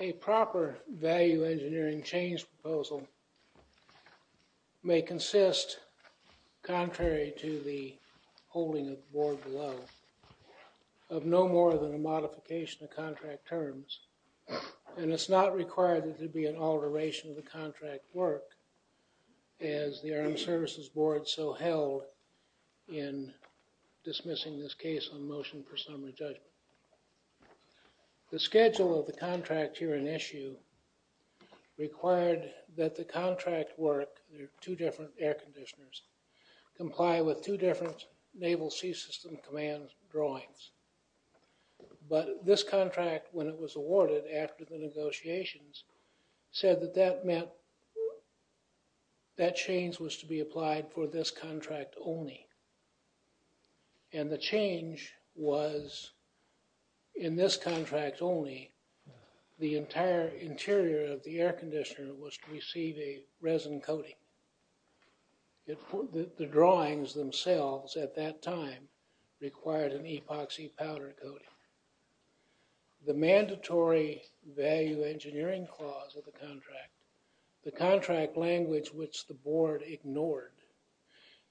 A proper value engineering change proposal may consist, contrary to the holding of the board below, of no more than a modification of contract terms, and it is not required that there be an alteration of the contract work as the Armed Services Board so held in dismissing this case on motion for summary judgment. The schedule of the contract here in issue required that the contract work, two different air conditioners, comply with two different naval sea system command drawings, but this said that that meant that change was to be applied for this contract only, and the change was in this contract only the entire interior of the air conditioner was to receive a resin coating. The drawings themselves at that time required an epoxy powder coating. The mandatory value engineering clause of the contract, the contract language which the board ignored,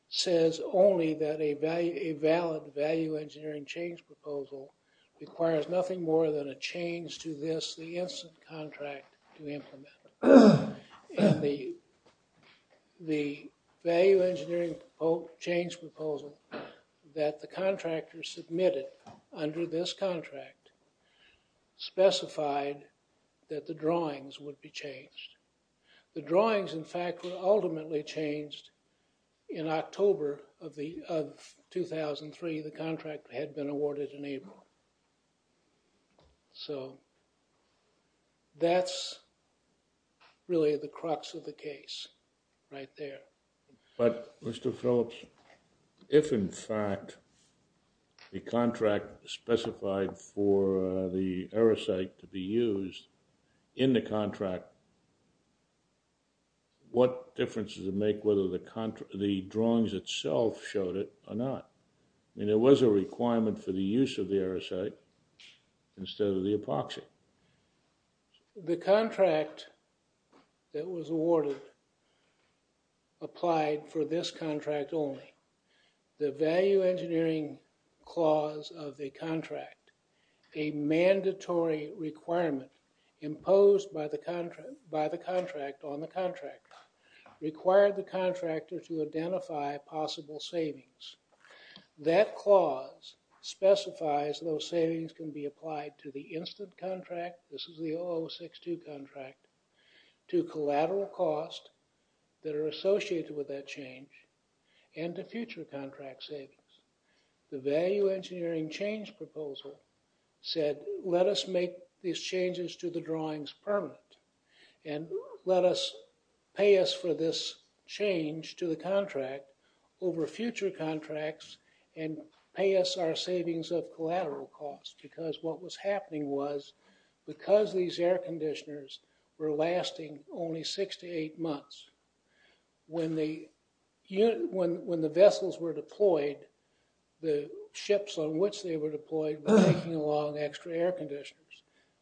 says only that a valid value engineering change proposal requires nothing more than a change to this, the instant contract to implement. And the value engineering change proposal that the contractors submitted under this contract specified that the drawings would be changed. The drawings in fact were ultimately changed in October of 2003, the contract had been awarded in April. So, that's really the crux of the case right there. But Mr. Phillips, if in fact the contract specified for the aerosite to be used in the contract, what difference does it make whether the drawings itself showed it or not? And it was a requirement for the use of the aerosite instead of the epoxy. The contract that was awarded applied for this contract only. The value engineering clause of the contract, a mandatory requirement imposed by the contract on the contractor, required the contractor to identify possible savings. That clause specifies those savings can be applied to the instant contract, this is the 0062 contract, to collateral cost that are associated with that change, and to future contract savings. The value engineering change proposal said let us make these changes to the drawings permanent, and let us pay us for this change to the contract over future contracts, and pay us our savings of collateral cost, because what was happening was because these air conditioners were lasting only six to eight months, when the vessels were deployed, the ships on which they were deployed were taking along extra air conditioners.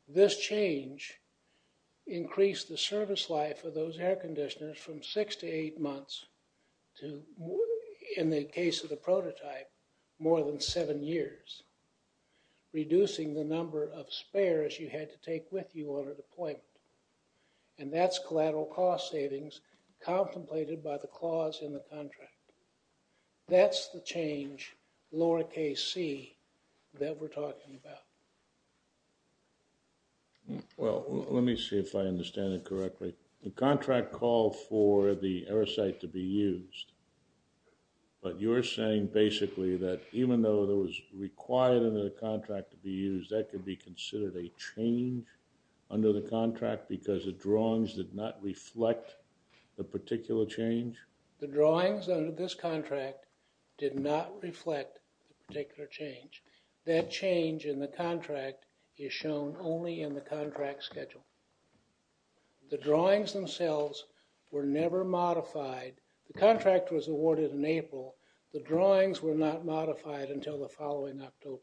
This change increased the service life of those air conditioners from six to eight months to, in the case of the prototype, more than seven years, reducing the number of spares you had to take with you on a deployment. And that's collateral cost savings contemplated by the clause in the contract. That's the change, lowercase c, that we're talking about. Well, let me see if I understand it correctly. The contract called for the air site to be used, but you're saying basically that even though it was required under the contract to be used, that could be considered a change under the contract because the drawings did not reflect the particular change? The drawings under this contract did not reflect the particular change. That change in the contract is shown only in the contract schedule. The drawings themselves were never modified. The contract was awarded in April. The drawings were not modified until the following October.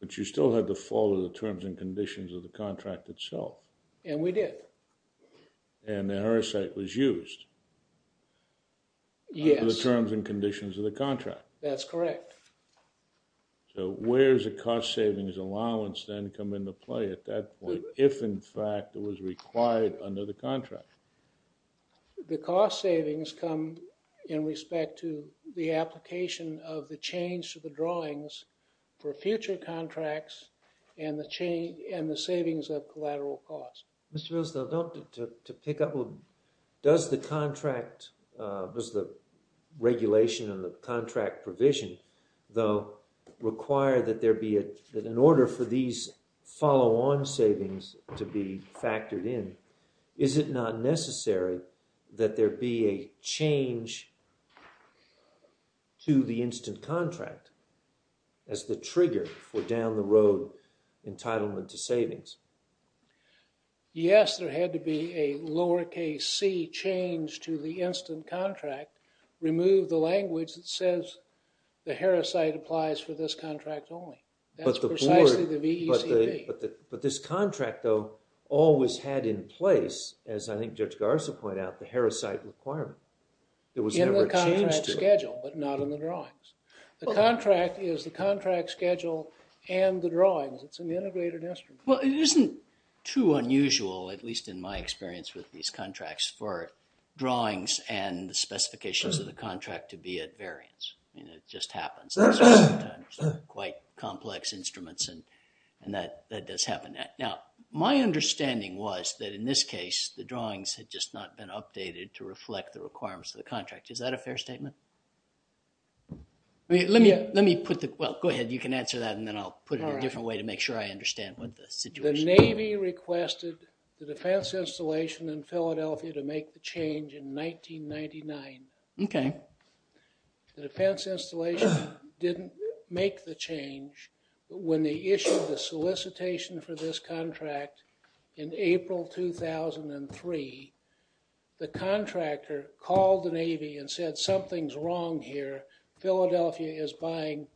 But you still had to follow the terms and conditions of the contract itself. And we did. And the air site was used. Yes. Under the terms and conditions of the contract. That's correct. So where's the cost savings allowance then come into play at that point, if in fact it was required under the contract? The cost savings come in respect to the application of the change to the drawings for future contracts and the savings of collateral cost. Mr. Rosenthal, to pick up, does the contract, does the regulation of the contract provision though require that there be, that in order for these follow-on savings to be factored in, is it not necessary that there be a change to the instant contract as the trigger for down the road entitlement to savings? Yes, there had to be a lowercase c change to the instant contract. Remove the language that says the Harrah site applies for this contract only. That's precisely the VECB. But this contract though always had in place, as I think Judge Garza pointed out, the Harrah site requirement. There was never a change to it. In the contract schedule, but not in the drawings. The contract is the contract schedule and the drawings. It's an integrated instrument. Well, it isn't too unusual, at least in my experience with these contracts, for drawings and the specifications of the contract to be at variance. I mean, it just happens quite complex instruments and that does happen that. Now, my understanding was that in this case, the drawings had just not been updated to reflect the requirements of the contract. Is that a fair statement? I mean, let me put the, well, go ahead. You can answer that and then I'll put it in a different way to make sure I understand what this. The Navy requested the defense installation in Philadelphia to make the change in 1999. Okay. The defense installation didn't make the change. When they issued the solicitation for this contract in April 2003, the contractor called the Navy and said something's wrong here. Philadelphia is buying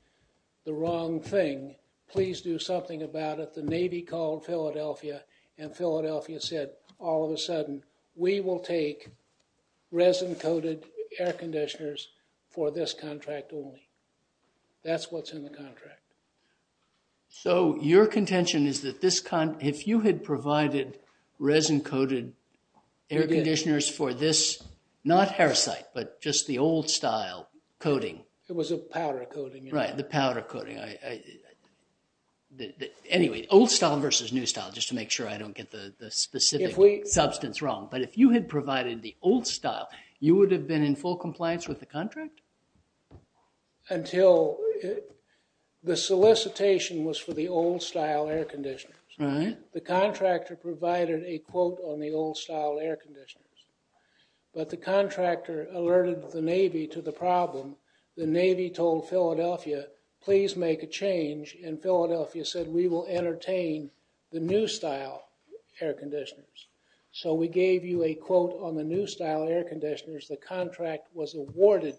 the wrong thing. Please do something about it. The Navy called Philadelphia and Philadelphia said, all of a sudden, we will take resin-coated air conditioners for this contract only. That's what's in the contract. So your contention is that this, if you had provided resin-coated air conditioners for this, not parasite, but just the old style coating. It was a powder coating. Right, the powder coating. I, anyway, old style versus new style, just to make sure I don't get the specific substance wrong. But if you had provided the old style, you would have been in full compliance with the contract? Until the solicitation was for the old style air conditioners. Right. The contractor provided a quote on the old style air conditioners. But the contractor alerted the Navy to the problem. The Navy told Philadelphia, please make a change. And Philadelphia said, we will entertain the new style air conditioners. So we gave you a quote on the new style air conditioners. The contract was awarded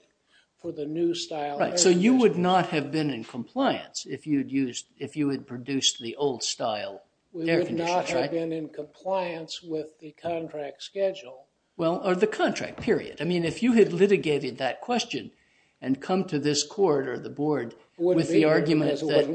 for the new style. Right, so you would not have been in compliance if you had used, if you had produced the old style air conditioners, right? We would not have been in compliance with the contract schedule. Well, or the contract, period. If you had litigated that question and come to this court or the board with the argument that-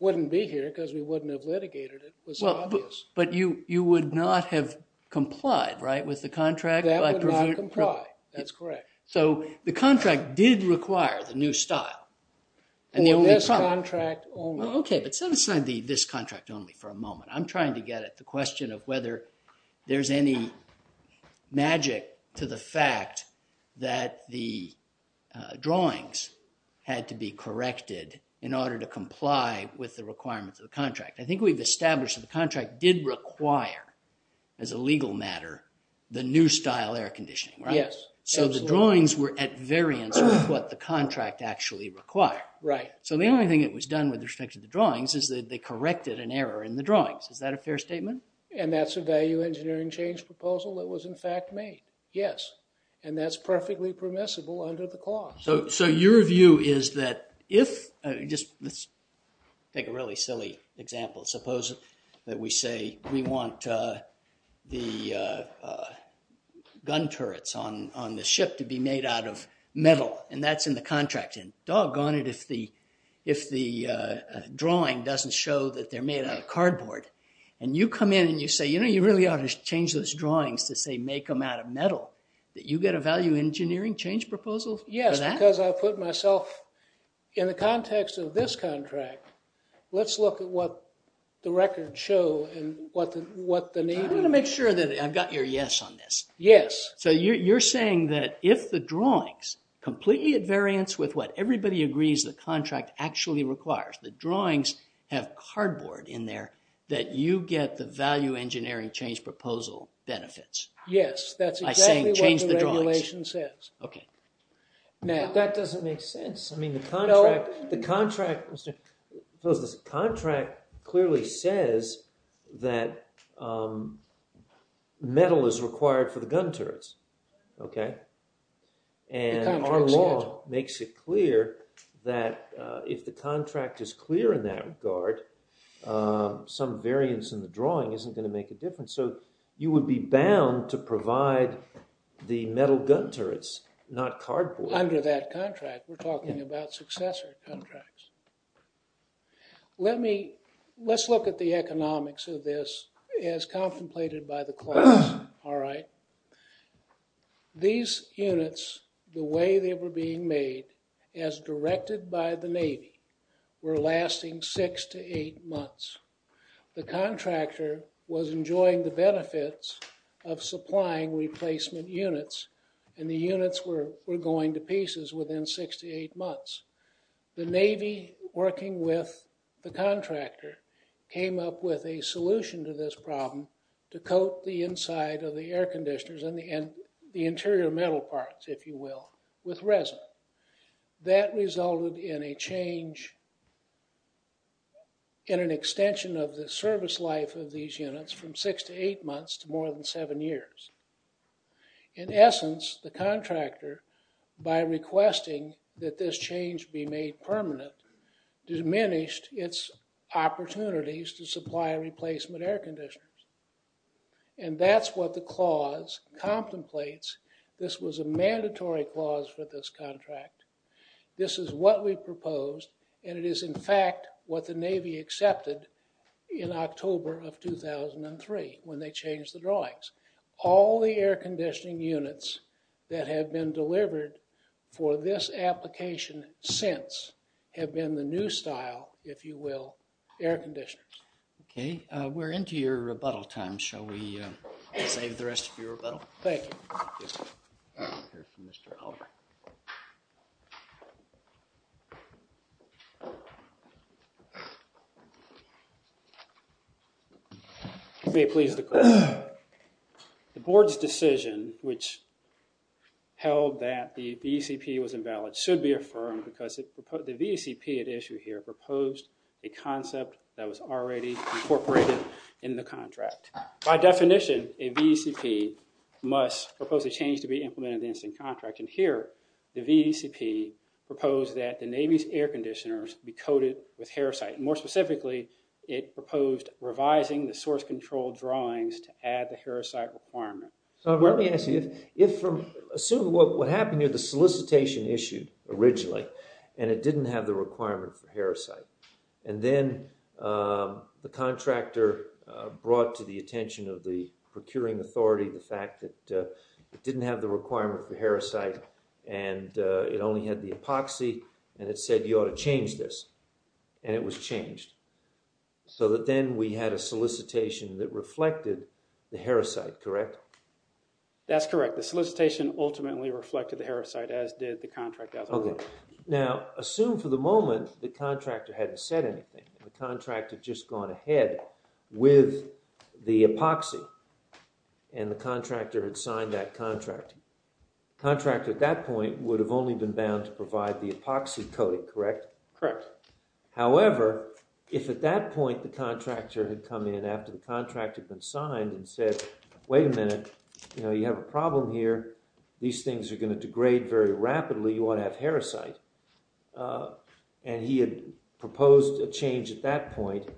Wouldn't be here because we wouldn't have litigated it. It was obvious. But you would not have complied, right, with the contract? That would not comply. That's correct. So the contract did require the new style. And the only problem- This contract only. OK, but set aside the this contract only for a moment. I'm trying to get at the question of whether there's any magic to the fact that the drawings had to be corrected in order to comply with the requirements of the contract. I think we've established that the contract did require, as a legal matter, the new style air conditioning, right? Yes, absolutely. So the drawings were at variance with what the contract actually required. Right. So the only thing that was done with respect to the drawings is that they corrected an error in the drawings. Is that a fair statement? And that's a value engineering change proposal that was, in fact, made. Yes. And that's perfectly permissible under the clause. So your view is that if- Let's take a really silly example. Suppose that we say we want the gun turrets on the ship to be made out of metal. And that's in the contract. Doggone it if the drawing doesn't show that they're made out of cardboard. And you come in and you say, you know, you really ought to change those drawings to say make them out of metal. That you get a value engineering change proposal for that? Yes, because I put myself in the context of this contract. Let's look at what the records show and what the need is. I want to make sure that I've got your yes on this. Yes. So you're saying that if the drawings, completely at variance with what everybody agrees the contract actually requires, the drawings have cardboard in there, that you get the value engineering change proposal benefits? Yes, that's exactly what the regulation says. Okay. Now- That doesn't make sense. I mean, the contract clearly says that metal is required for the gun turrets. Okay. And our law makes it clear that if the contract is clear in that regard, some variance in the drawing isn't going to make a difference. So you would be bound to provide the metal gun turrets, not cardboard. Under that contract, we're talking about successor contracts. Let me, let's look at the economics of this as contemplated by the class. All right. These units, the way they were being made, as directed by the Navy, were lasting six to eight months. The contractor was enjoying the benefits of supplying replacement units, and the units were going to pieces within six to eight months. The Navy, working with the contractor, came up with a solution to this problem to coat the inside of the air conditioners and the interior metal parts, if you will, with resin. That resulted in a change, in an extension of the service life of these units from six to eight months to more than seven years. In essence, the contractor, by requesting that this change be made permanent, diminished its opportunities to supply replacement air conditioners. And that's what the clause contemplates. This was a mandatory clause for this contract. This is what we proposed, and it is, in fact, what the Navy accepted in October of 2003 when they changed the drawings. All the air conditioning units that have been delivered for this application since have been the new style, if you will, air conditioners. Okay, we're into your rebuttal time. Shall we save the rest of your rebuttal? Thank you. I'll be pleased to close. The board's decision, which held that the VECP was invalid, should be affirmed because the VECP at issue here proposed a concept that was already incorporated in the contract. By definition, a VECP must propose a change to be implemented against a contract. And here, the VECP proposed that the Navy's air conditioners be coated with Herosite. More specifically, it proposed revising the source control drawings to add the Herosite requirement. So let me ask you, assume what happened here, the solicitation issued originally, and it didn't have the requirement for Herosite. And then the contractor brought to the attention of the procuring authority the fact that it didn't have the requirement for Herosite, and it only had the epoxy, and it said you ought to change this. And it was changed. So that then we had a solicitation that reflected the Herosite, correct? That's correct. The solicitation ultimately reflected the Herosite, as did the contract as a whole. Now, assume for the moment the contractor hadn't said anything. The contract had just gone ahead with the epoxy, and the contractor had signed that contract. The contractor at that point would have only been bound to provide the epoxy coating, correct? Correct. However, if at that point the contractor had come in after the contract had been signed and said, wait a minute, you have a problem here. These things are going to degrade very rapidly. You ought to have Herosite. And he had proposed a change at that point,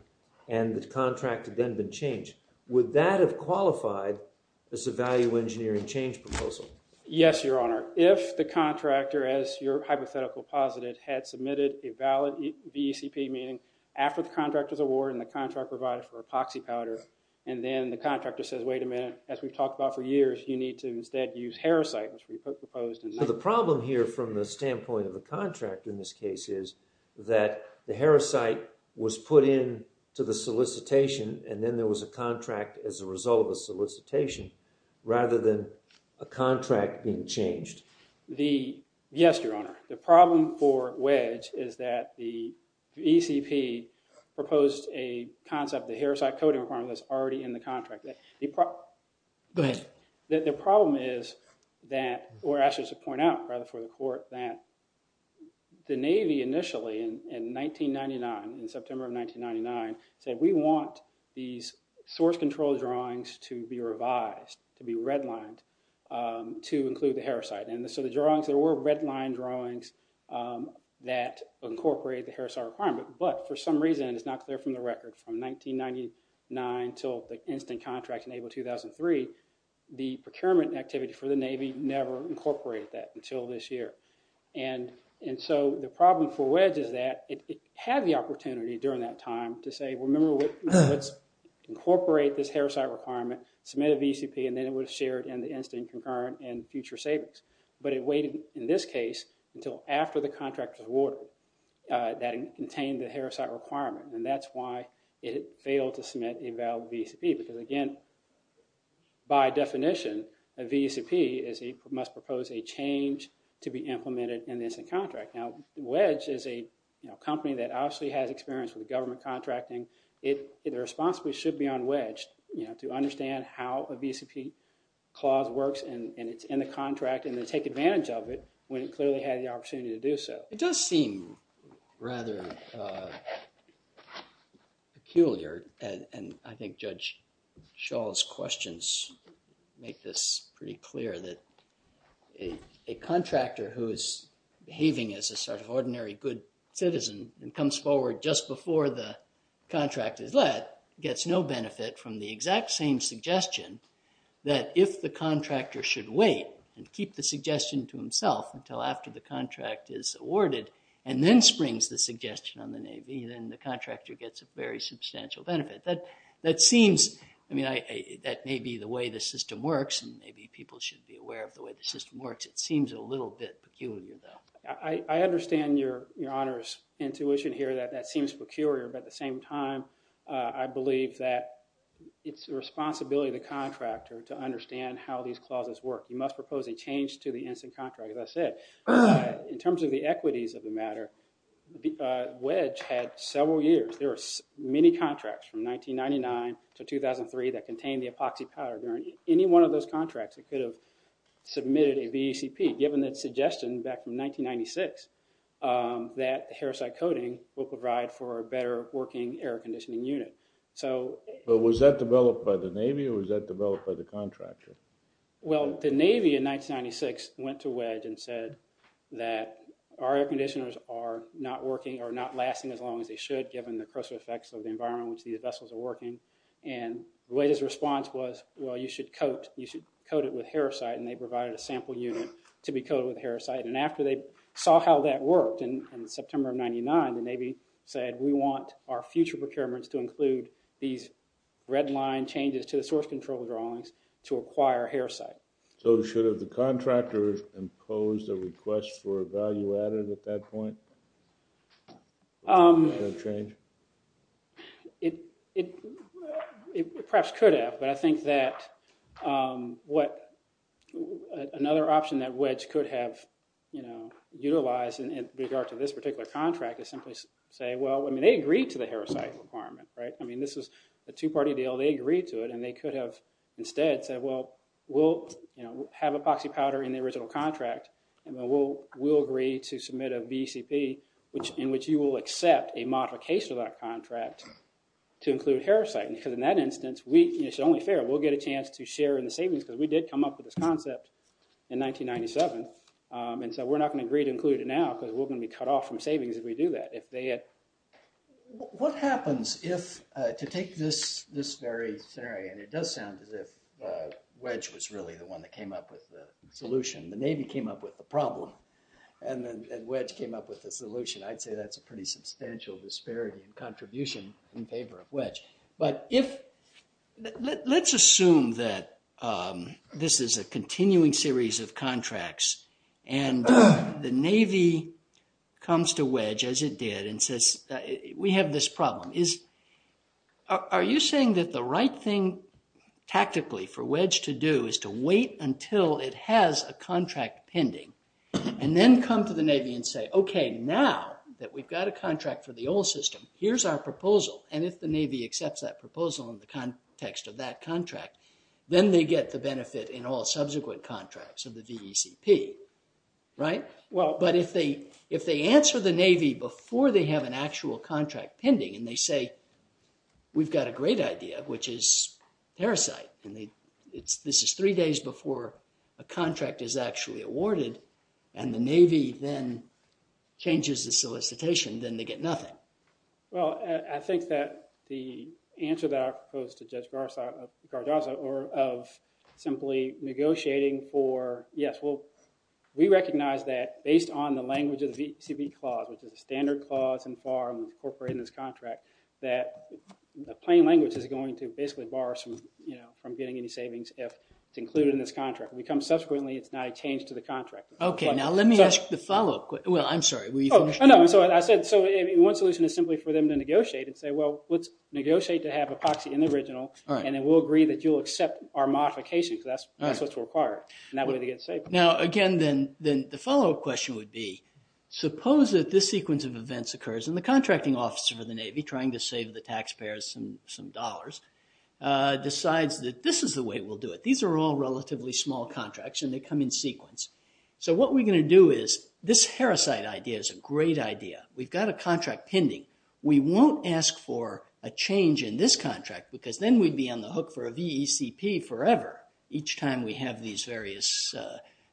and the contract had then been changed. Would that have qualified as a value engineering change proposal? Yes, your honor. If the contractor, as your hypothetical posited, had submitted a valid VECP meeting after the contract was awarded and the contract provided for epoxy powder, and then the contractor says, wait a minute, as we've talked about for years, you need to instead use Herosite, which we proposed. The problem here from the standpoint of the contractor in this case is that the Herosite was put in to the solicitation, and then there was a contract as a result of the solicitation, rather than a contract being changed. Yes, your honor. The problem for Wedge is that the ECP proposed a concept, the Herosite coating requirement that's already in the contract. Go ahead. The problem is that, or actually just to point out rather for the court, that the Navy initially in 1999, in September of 1999, said we want these source control drawings to be revised, to be redlined, to include the Herosite. And so the drawings, there were redlined drawings that incorporate the Herosite requirement. But for some reason, it's not clear from the record, from 1999 until the instant contract in April 2003, the procurement activity for the Navy never incorporated that until this year. And so the problem for Wedge is that it had the opportunity during that time to say, well, remember, let's incorporate this Herosite requirement, submit a VCP, and then it was shared in the instant concurrent and future savings. But it waited, in this case, until after the contract was awarded that it contained the Herosite requirement. And that's why it failed to submit a valid VCP. Because again, by definition, a VCP must propose a change to be implemented in the instant contract. Now, Wedge is a company that obviously has experience with government contracting. It responsibly should be on Wedge to understand how a VCP clause works and it's in the contract and to take advantage of it when it clearly had the opportunity to do so. It does seem rather peculiar. And I think Judge Schall's questions make this pretty clear that a contractor who is behaving as a sort of ordinary good citizen and comes forward just before the contract is let gets no benefit from the exact same suggestion that if the contractor should wait and keep the suggestion to himself until after the contract is awarded and then springs the suggestion on the Navy, then the contractor gets a very substantial benefit. That seems, I mean, that may be the way the system works and maybe people should be aware of the way the system works. It seems a little bit peculiar though. I understand your honor's intuition here that that seems peculiar. But at the same time, I believe that it's the responsibility of the contractor to understand how these clauses work. You must propose a change to the instant contract. As I said, in terms of the equities of the matter, Wedge had several years. There are many contracts from 1999 to 2003 that contain the epoxy powder during any one of those contracts that could have submitted a VACP, given that suggestion back from 1996, that hair site coating will provide for a better working air conditioning unit. So... But was that developed by the Navy or was that developed by the contractor? Well, the Navy in 1996 went to Wedge and said that our air conditioners are not working or not lasting as long as they should, given the coercive effects of the environment in which these vessels are working. And Wedge's response was, well, you should coat it with hair site and they provided a sample unit to be coated with hair site. And after they saw how that worked in September of 99, the Navy said, we want our future procurements to include these red line changes to the source control drawings to acquire hair site. So should have the contractor imposed a request for a value-added at that point? Would that change? It perhaps could have, but I think that what... Another option that Wedge could have, you know, utilized in regard to this particular contract is simply say, well, I mean, they agreed to the hair site requirement, right? I mean, this is a two-party deal. They agreed to it and they could have instead said, well, we'll have epoxy powder in the original contract and we'll agree to submit a BCP in which you will accept a modification of that contract to include hair site. And because in that instance, it's only fair, we'll get a chance to share in the savings because we did come up with this concept in 1997. And so we're not gonna agree to include it now because we're gonna be cut off from savings if we do that. What happens if, to take this very scenario, and it does sound as if Wedge was really the one that came up with the solution. The Navy came up with the problem and then Wedge came up with the solution. I'd say that's a pretty substantial disparity in contribution in favor of Wedge. But if, let's assume that this is a continuing series of contracts and the Navy comes to Wedge as it did and says, we have this problem. Is, are you saying that the right thing tactically for Wedge to do is to wait until it has a contract pending and then come to the Navy and say, okay, now that we've got a contract for the old system, here's our proposal. And if the Navy accepts that proposal in the context of that contract, then they get the benefit in all subsequent contracts of the VECP, right? Well, but if they answer the Navy before they have an actual contract pending and they say, we've got a great idea, which is parasite. And they, it's, this is three days before a contract is actually awarded and the Navy then changes the solicitation, then they get nothing. Well, I think that the answer that I propose to Judge Gargazza of simply negotiating for, yes, well, we recognize that based on the language of the VECP clause, which is a standard clause in FAR and incorporated in this contract, that the plain language is going to basically bar us from getting any savings if it's included in this contract. When it comes subsequently, it's not a change to the contract. Okay, now let me ask the follow-up. Well, I'm sorry, were you finished? Oh, no, I said, so one solution is simply for them to negotiate and say, well, let's negotiate to have a proxy in the original and then we'll agree that you'll accept our modification because that's what's required and that way they get saved. Now, again, then the follow-up question would be, suppose that this sequence of events occurs and the contracting officer of the Navy, trying to save the taxpayers some dollars, decides that this is the way we'll do it. These are all relatively small contracts and they come in sequence. So what we're going to do is, this Harriside idea is a great idea. We've got a contract pending. We won't ask for a change in this contract because then we'd be on the hook for a VECP forever each time we have these various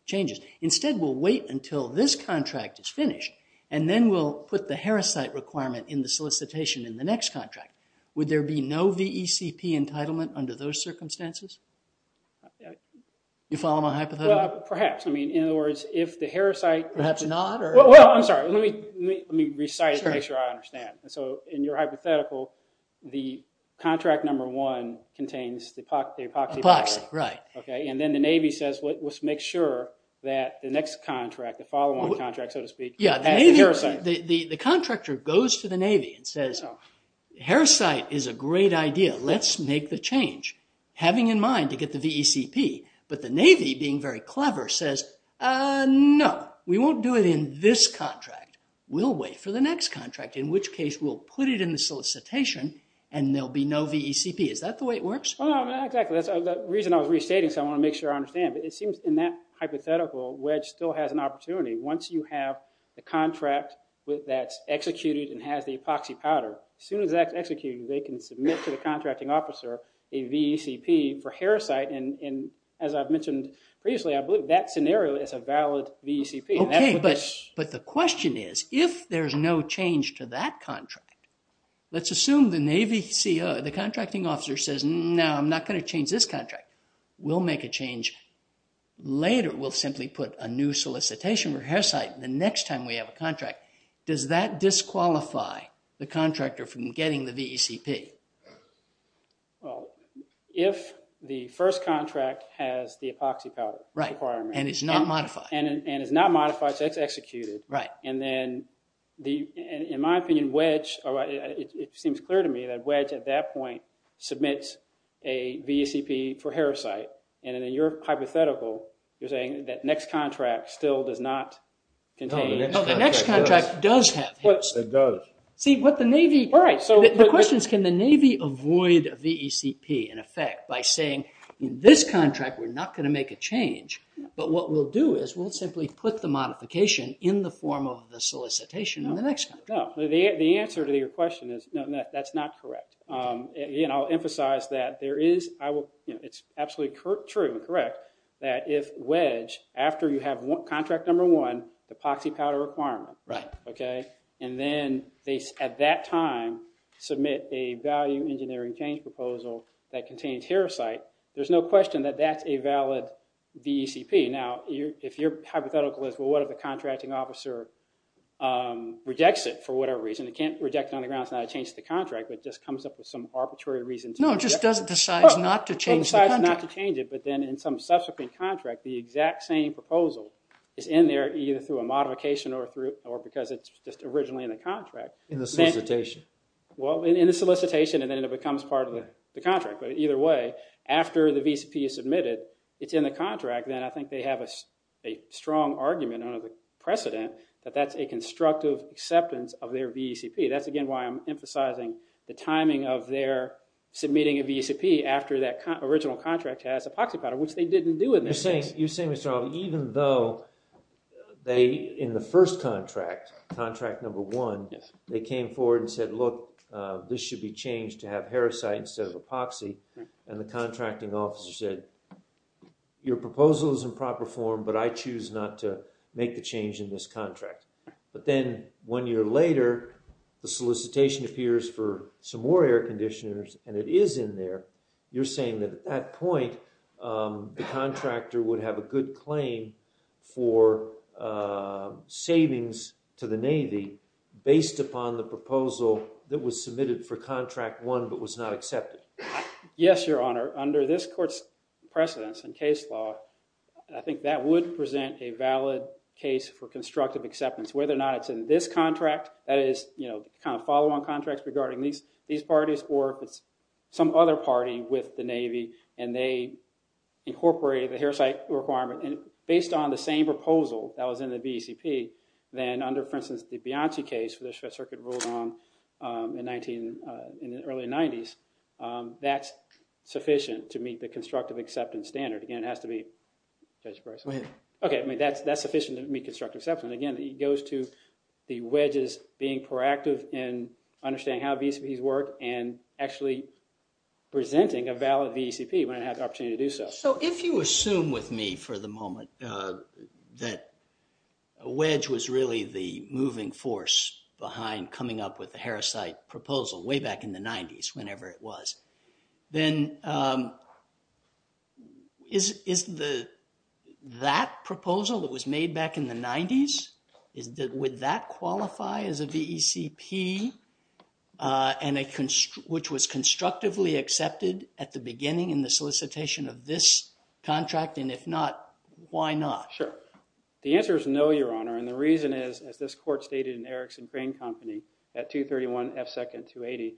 changes. Instead, we'll wait until this contract is finished and then we'll put the Harriside requirement in the solicitation in the next contract. Would there be no VECP entitlement under those circumstances? You follow my hypothetical? Perhaps. I mean, in other words, if the Harriside- Perhaps not or- Well, I'm sorry. Let me recite it to make sure I understand. So in your hypothetical, the contract number one contains the epoxy- Epoxy, right. And then the Navy says, let's make sure that the next contract, the follow-on contract, so to speak- Yeah, the Navy- Harriside. The contractor goes to the Navy and says, Harriside is a great idea. Let's make the change, having in mind to get the VECP. But the Navy, being very clever, says, no, we won't do it in this contract. We'll wait for the next contract, in which case we'll put it in the solicitation and there'll be no VECP. Is that the way it works? Well, exactly. The reason I was restating, so I want to make sure I understand, but it seems in that hypothetical, Wedge still has an opportunity. Once you have the contract that's executed and has the epoxy powder, as soon as that's executed, they can submit to the contracting officer a VECP for Harriside. And as I've mentioned previously, I believe that scenario is a valid VECP. Okay, but the question is, if there's no change to that contract, let's assume the Navy CO, the contracting officer says, no, I'm not going to change this contract. We'll make a change later. We'll simply put a new solicitation for Harriside the next time we have a contract. Does that disqualify the contractor from getting the VECP? Well, if the first contract has the epoxy powder requirement and it's not modified, so it's executed, and then, in my opinion, Wedge, it seems clear to me, that Wedge, at that point, submits a VECP for Harriside. And in your hypothetical, you're saying that next contract still does not contain... No, the next contract does have Harriside. It does. See, what the Navy... Right, so... The question is, can the Navy avoid VECP, in effect, by saying, this contract, we're not going to make a change, but what we'll do is, we'll simply put the modification in the form of the solicitation on the next contract. No, the answer to your question is, that's not correct. I'll emphasize that there is... It's absolutely true and correct that if Wedge, after you have contract number one, the epoxy powder requirement, and then they, at that time, submit a value engineering change proposal that contains Harriside, there's no question that that's a valid VECP. Now, if your hypothetical is, well, what if the contracting officer rejects it for whatever reason? It can't reject it on the ground. It's not a change to the contract, but it just comes up with some arbitrary reason. No, it just doesn't decide not to change the contract. It decides not to change it, but then in some subsequent contract, the exact same proposal is in there, either through a modification or because it's just originally in the contract. In the solicitation. Well, in the solicitation, and then it becomes part of the contract. But either way, after the VECP is submitted, it's in the contract, then I think they have a strong argument under the precedent that that's a constructive acceptance of their VECP. That's, again, why I'm emphasizing the timing of their submitting a VECP after that original contract has epoxy powder, which they didn't do in this case. You're saying, Mr. Albee, even though they, in the first contract, contract number one, they came forward and said, look, this should be changed to have heresyte instead of epoxy. And the contracting officer said, your proposal is in proper form, but I choose not to make the change in this contract. But then one year later, the solicitation appears for some more air conditioners, and it is in there. You're saying that at that point, the contractor would have a good claim for savings to the Navy based upon the proposal that was submitted for contract one but was not accepted. Yes, Your Honor. Under this court's precedence and case law, I think that would present a valid case for constructive acceptance. Whether or not it's in this contract, that is, you know, kind of follow-on contracts regarding these parties, or if it's some other party with the Navy and they incorporated the heresyte requirement and based on the same proposal that was in the BCP, then under, for instance, the Bianchi case for the Shred Circuit ruled on in the early 90s, that's sufficient to meet the constructive acceptance standard. Again, it has to be, Judge Bryce. Go ahead. OK, I mean, that's sufficient to meet constructive acceptance. Again, it goes to the wedges being proactive in understanding how VCPs work and actually presenting a valid VCP when it has the opportunity to do so. So if you assume with me for the moment that a wedge was really the moving force behind coming up with the heresyte proposal way back in the 90s, whenever it was, then is that proposal that was made back in the 90s, would that qualify as a VECP which was constructively accepted at the beginning in the solicitation of this contract? And if not, why not? Sure. The answer is no, Your Honor. And the reason is, as this court stated in Erickson Crane Company at 231 F. 2nd 280,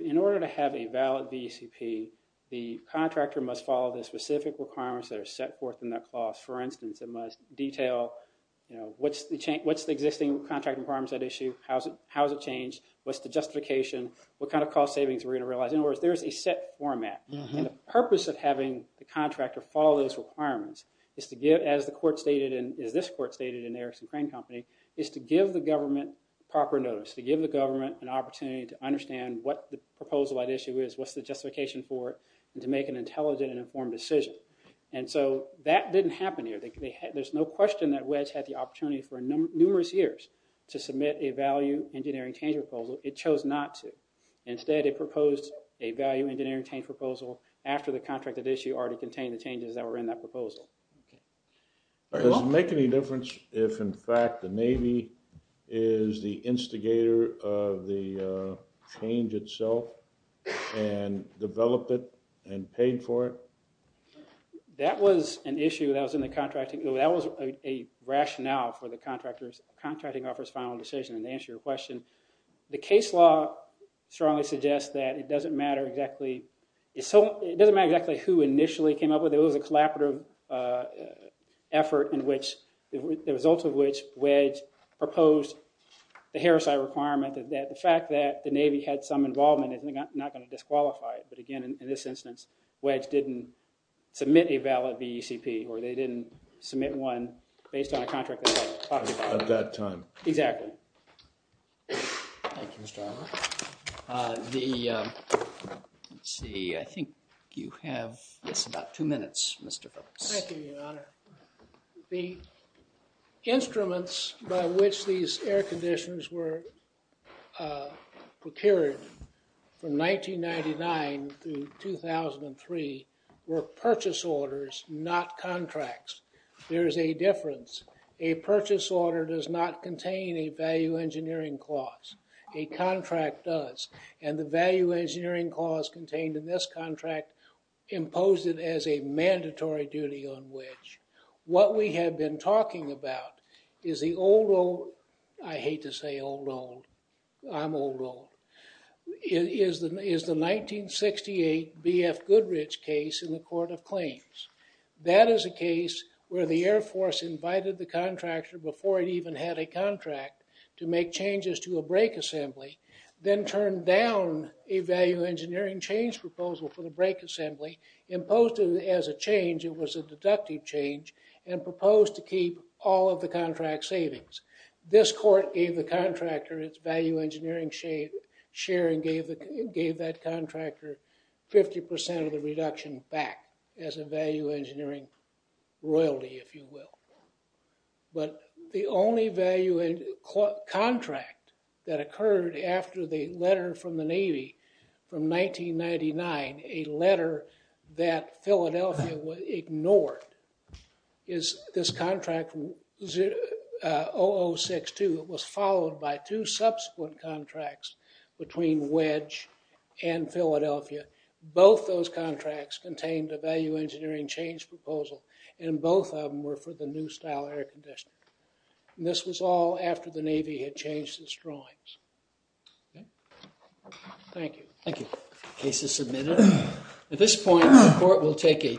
in order to have a valid VECP, the contractor must follow the specific requirements that are set forth in that clause. For instance, it must detail what's the existing contract requirements at issue, how has it changed, what's the justification, what kind of cost savings we're going to realize. In other words, there's a set format. And the purpose of having the contractor follow those requirements is to give, as the court stated, and as this court stated in Erickson Crane Company, is to give the government proper notice, to give the government an opportunity to understand what the proposal at issue is, what's the justification for it, and to make an intelligent and informed decision. And so that didn't happen here. There's no question that WEDS had the opportunity for numerous years to submit a value engineering change proposal. It chose not to. Instead, it proposed a value engineering change proposal after the contract at issue already contained the changes that were in that proposal. Does it make any difference if, in fact, the Navy is the instigator of the change itself and developed it and paid for it? That was an issue that was a rationale for the contracting officer's final decision and to answer your question. The case law strongly suggests that it doesn't matter exactly who initially came up with it. It was a collaborative effort the result of which WEDS proposed the heresy requirement that the fact that the Navy had some involvement is not going to disqualify it. But again, in this instance, WEDS didn't submit a valid VECP or they didn't submit one based on a contract at that time. Thank you, Mr. Armour. The, let's see, I think you have just about two minutes, Mr. Brooks. Thank you, Your Honor. The instruments by which these air conditions were procured from 1999 to 2003 were purchase orders, not contracts. There is a difference. A purchase order does not contain a value engineering clause. A contract does. And the value engineering clause contained in this contract imposed it as a mandatory duty on WEDS. What we have been talking about is the old, old, I hate to say old, old, I'm old, old, is the 1968 BF Goodrich case in the Court of Claims. That is a case where the Air Force invited the contractor before it even had a contract to make changes to a brake assembly, then turned down a value engineering change proposal for the brake assembly, imposed it as a change, it was a deductive change, and proposed to keep all of the contract savings. This court gave the contractor its value engineering share and gave that contractor 50% of the reduction back as a value engineering royalty, if you will. But the only value contract that occurred after the letter from the Navy from 1999, a letter that Philadelphia would ignore, is this contract 0062. It was followed by two subsequent contracts between WEDS and Philadelphia. Both those contracts contained a value engineering change proposal, and both of them were for the new style air conditioner. And this was all after the Navy had changed its drawings. Thank you. Thank you. Case is submitted. At this point, the court will take a...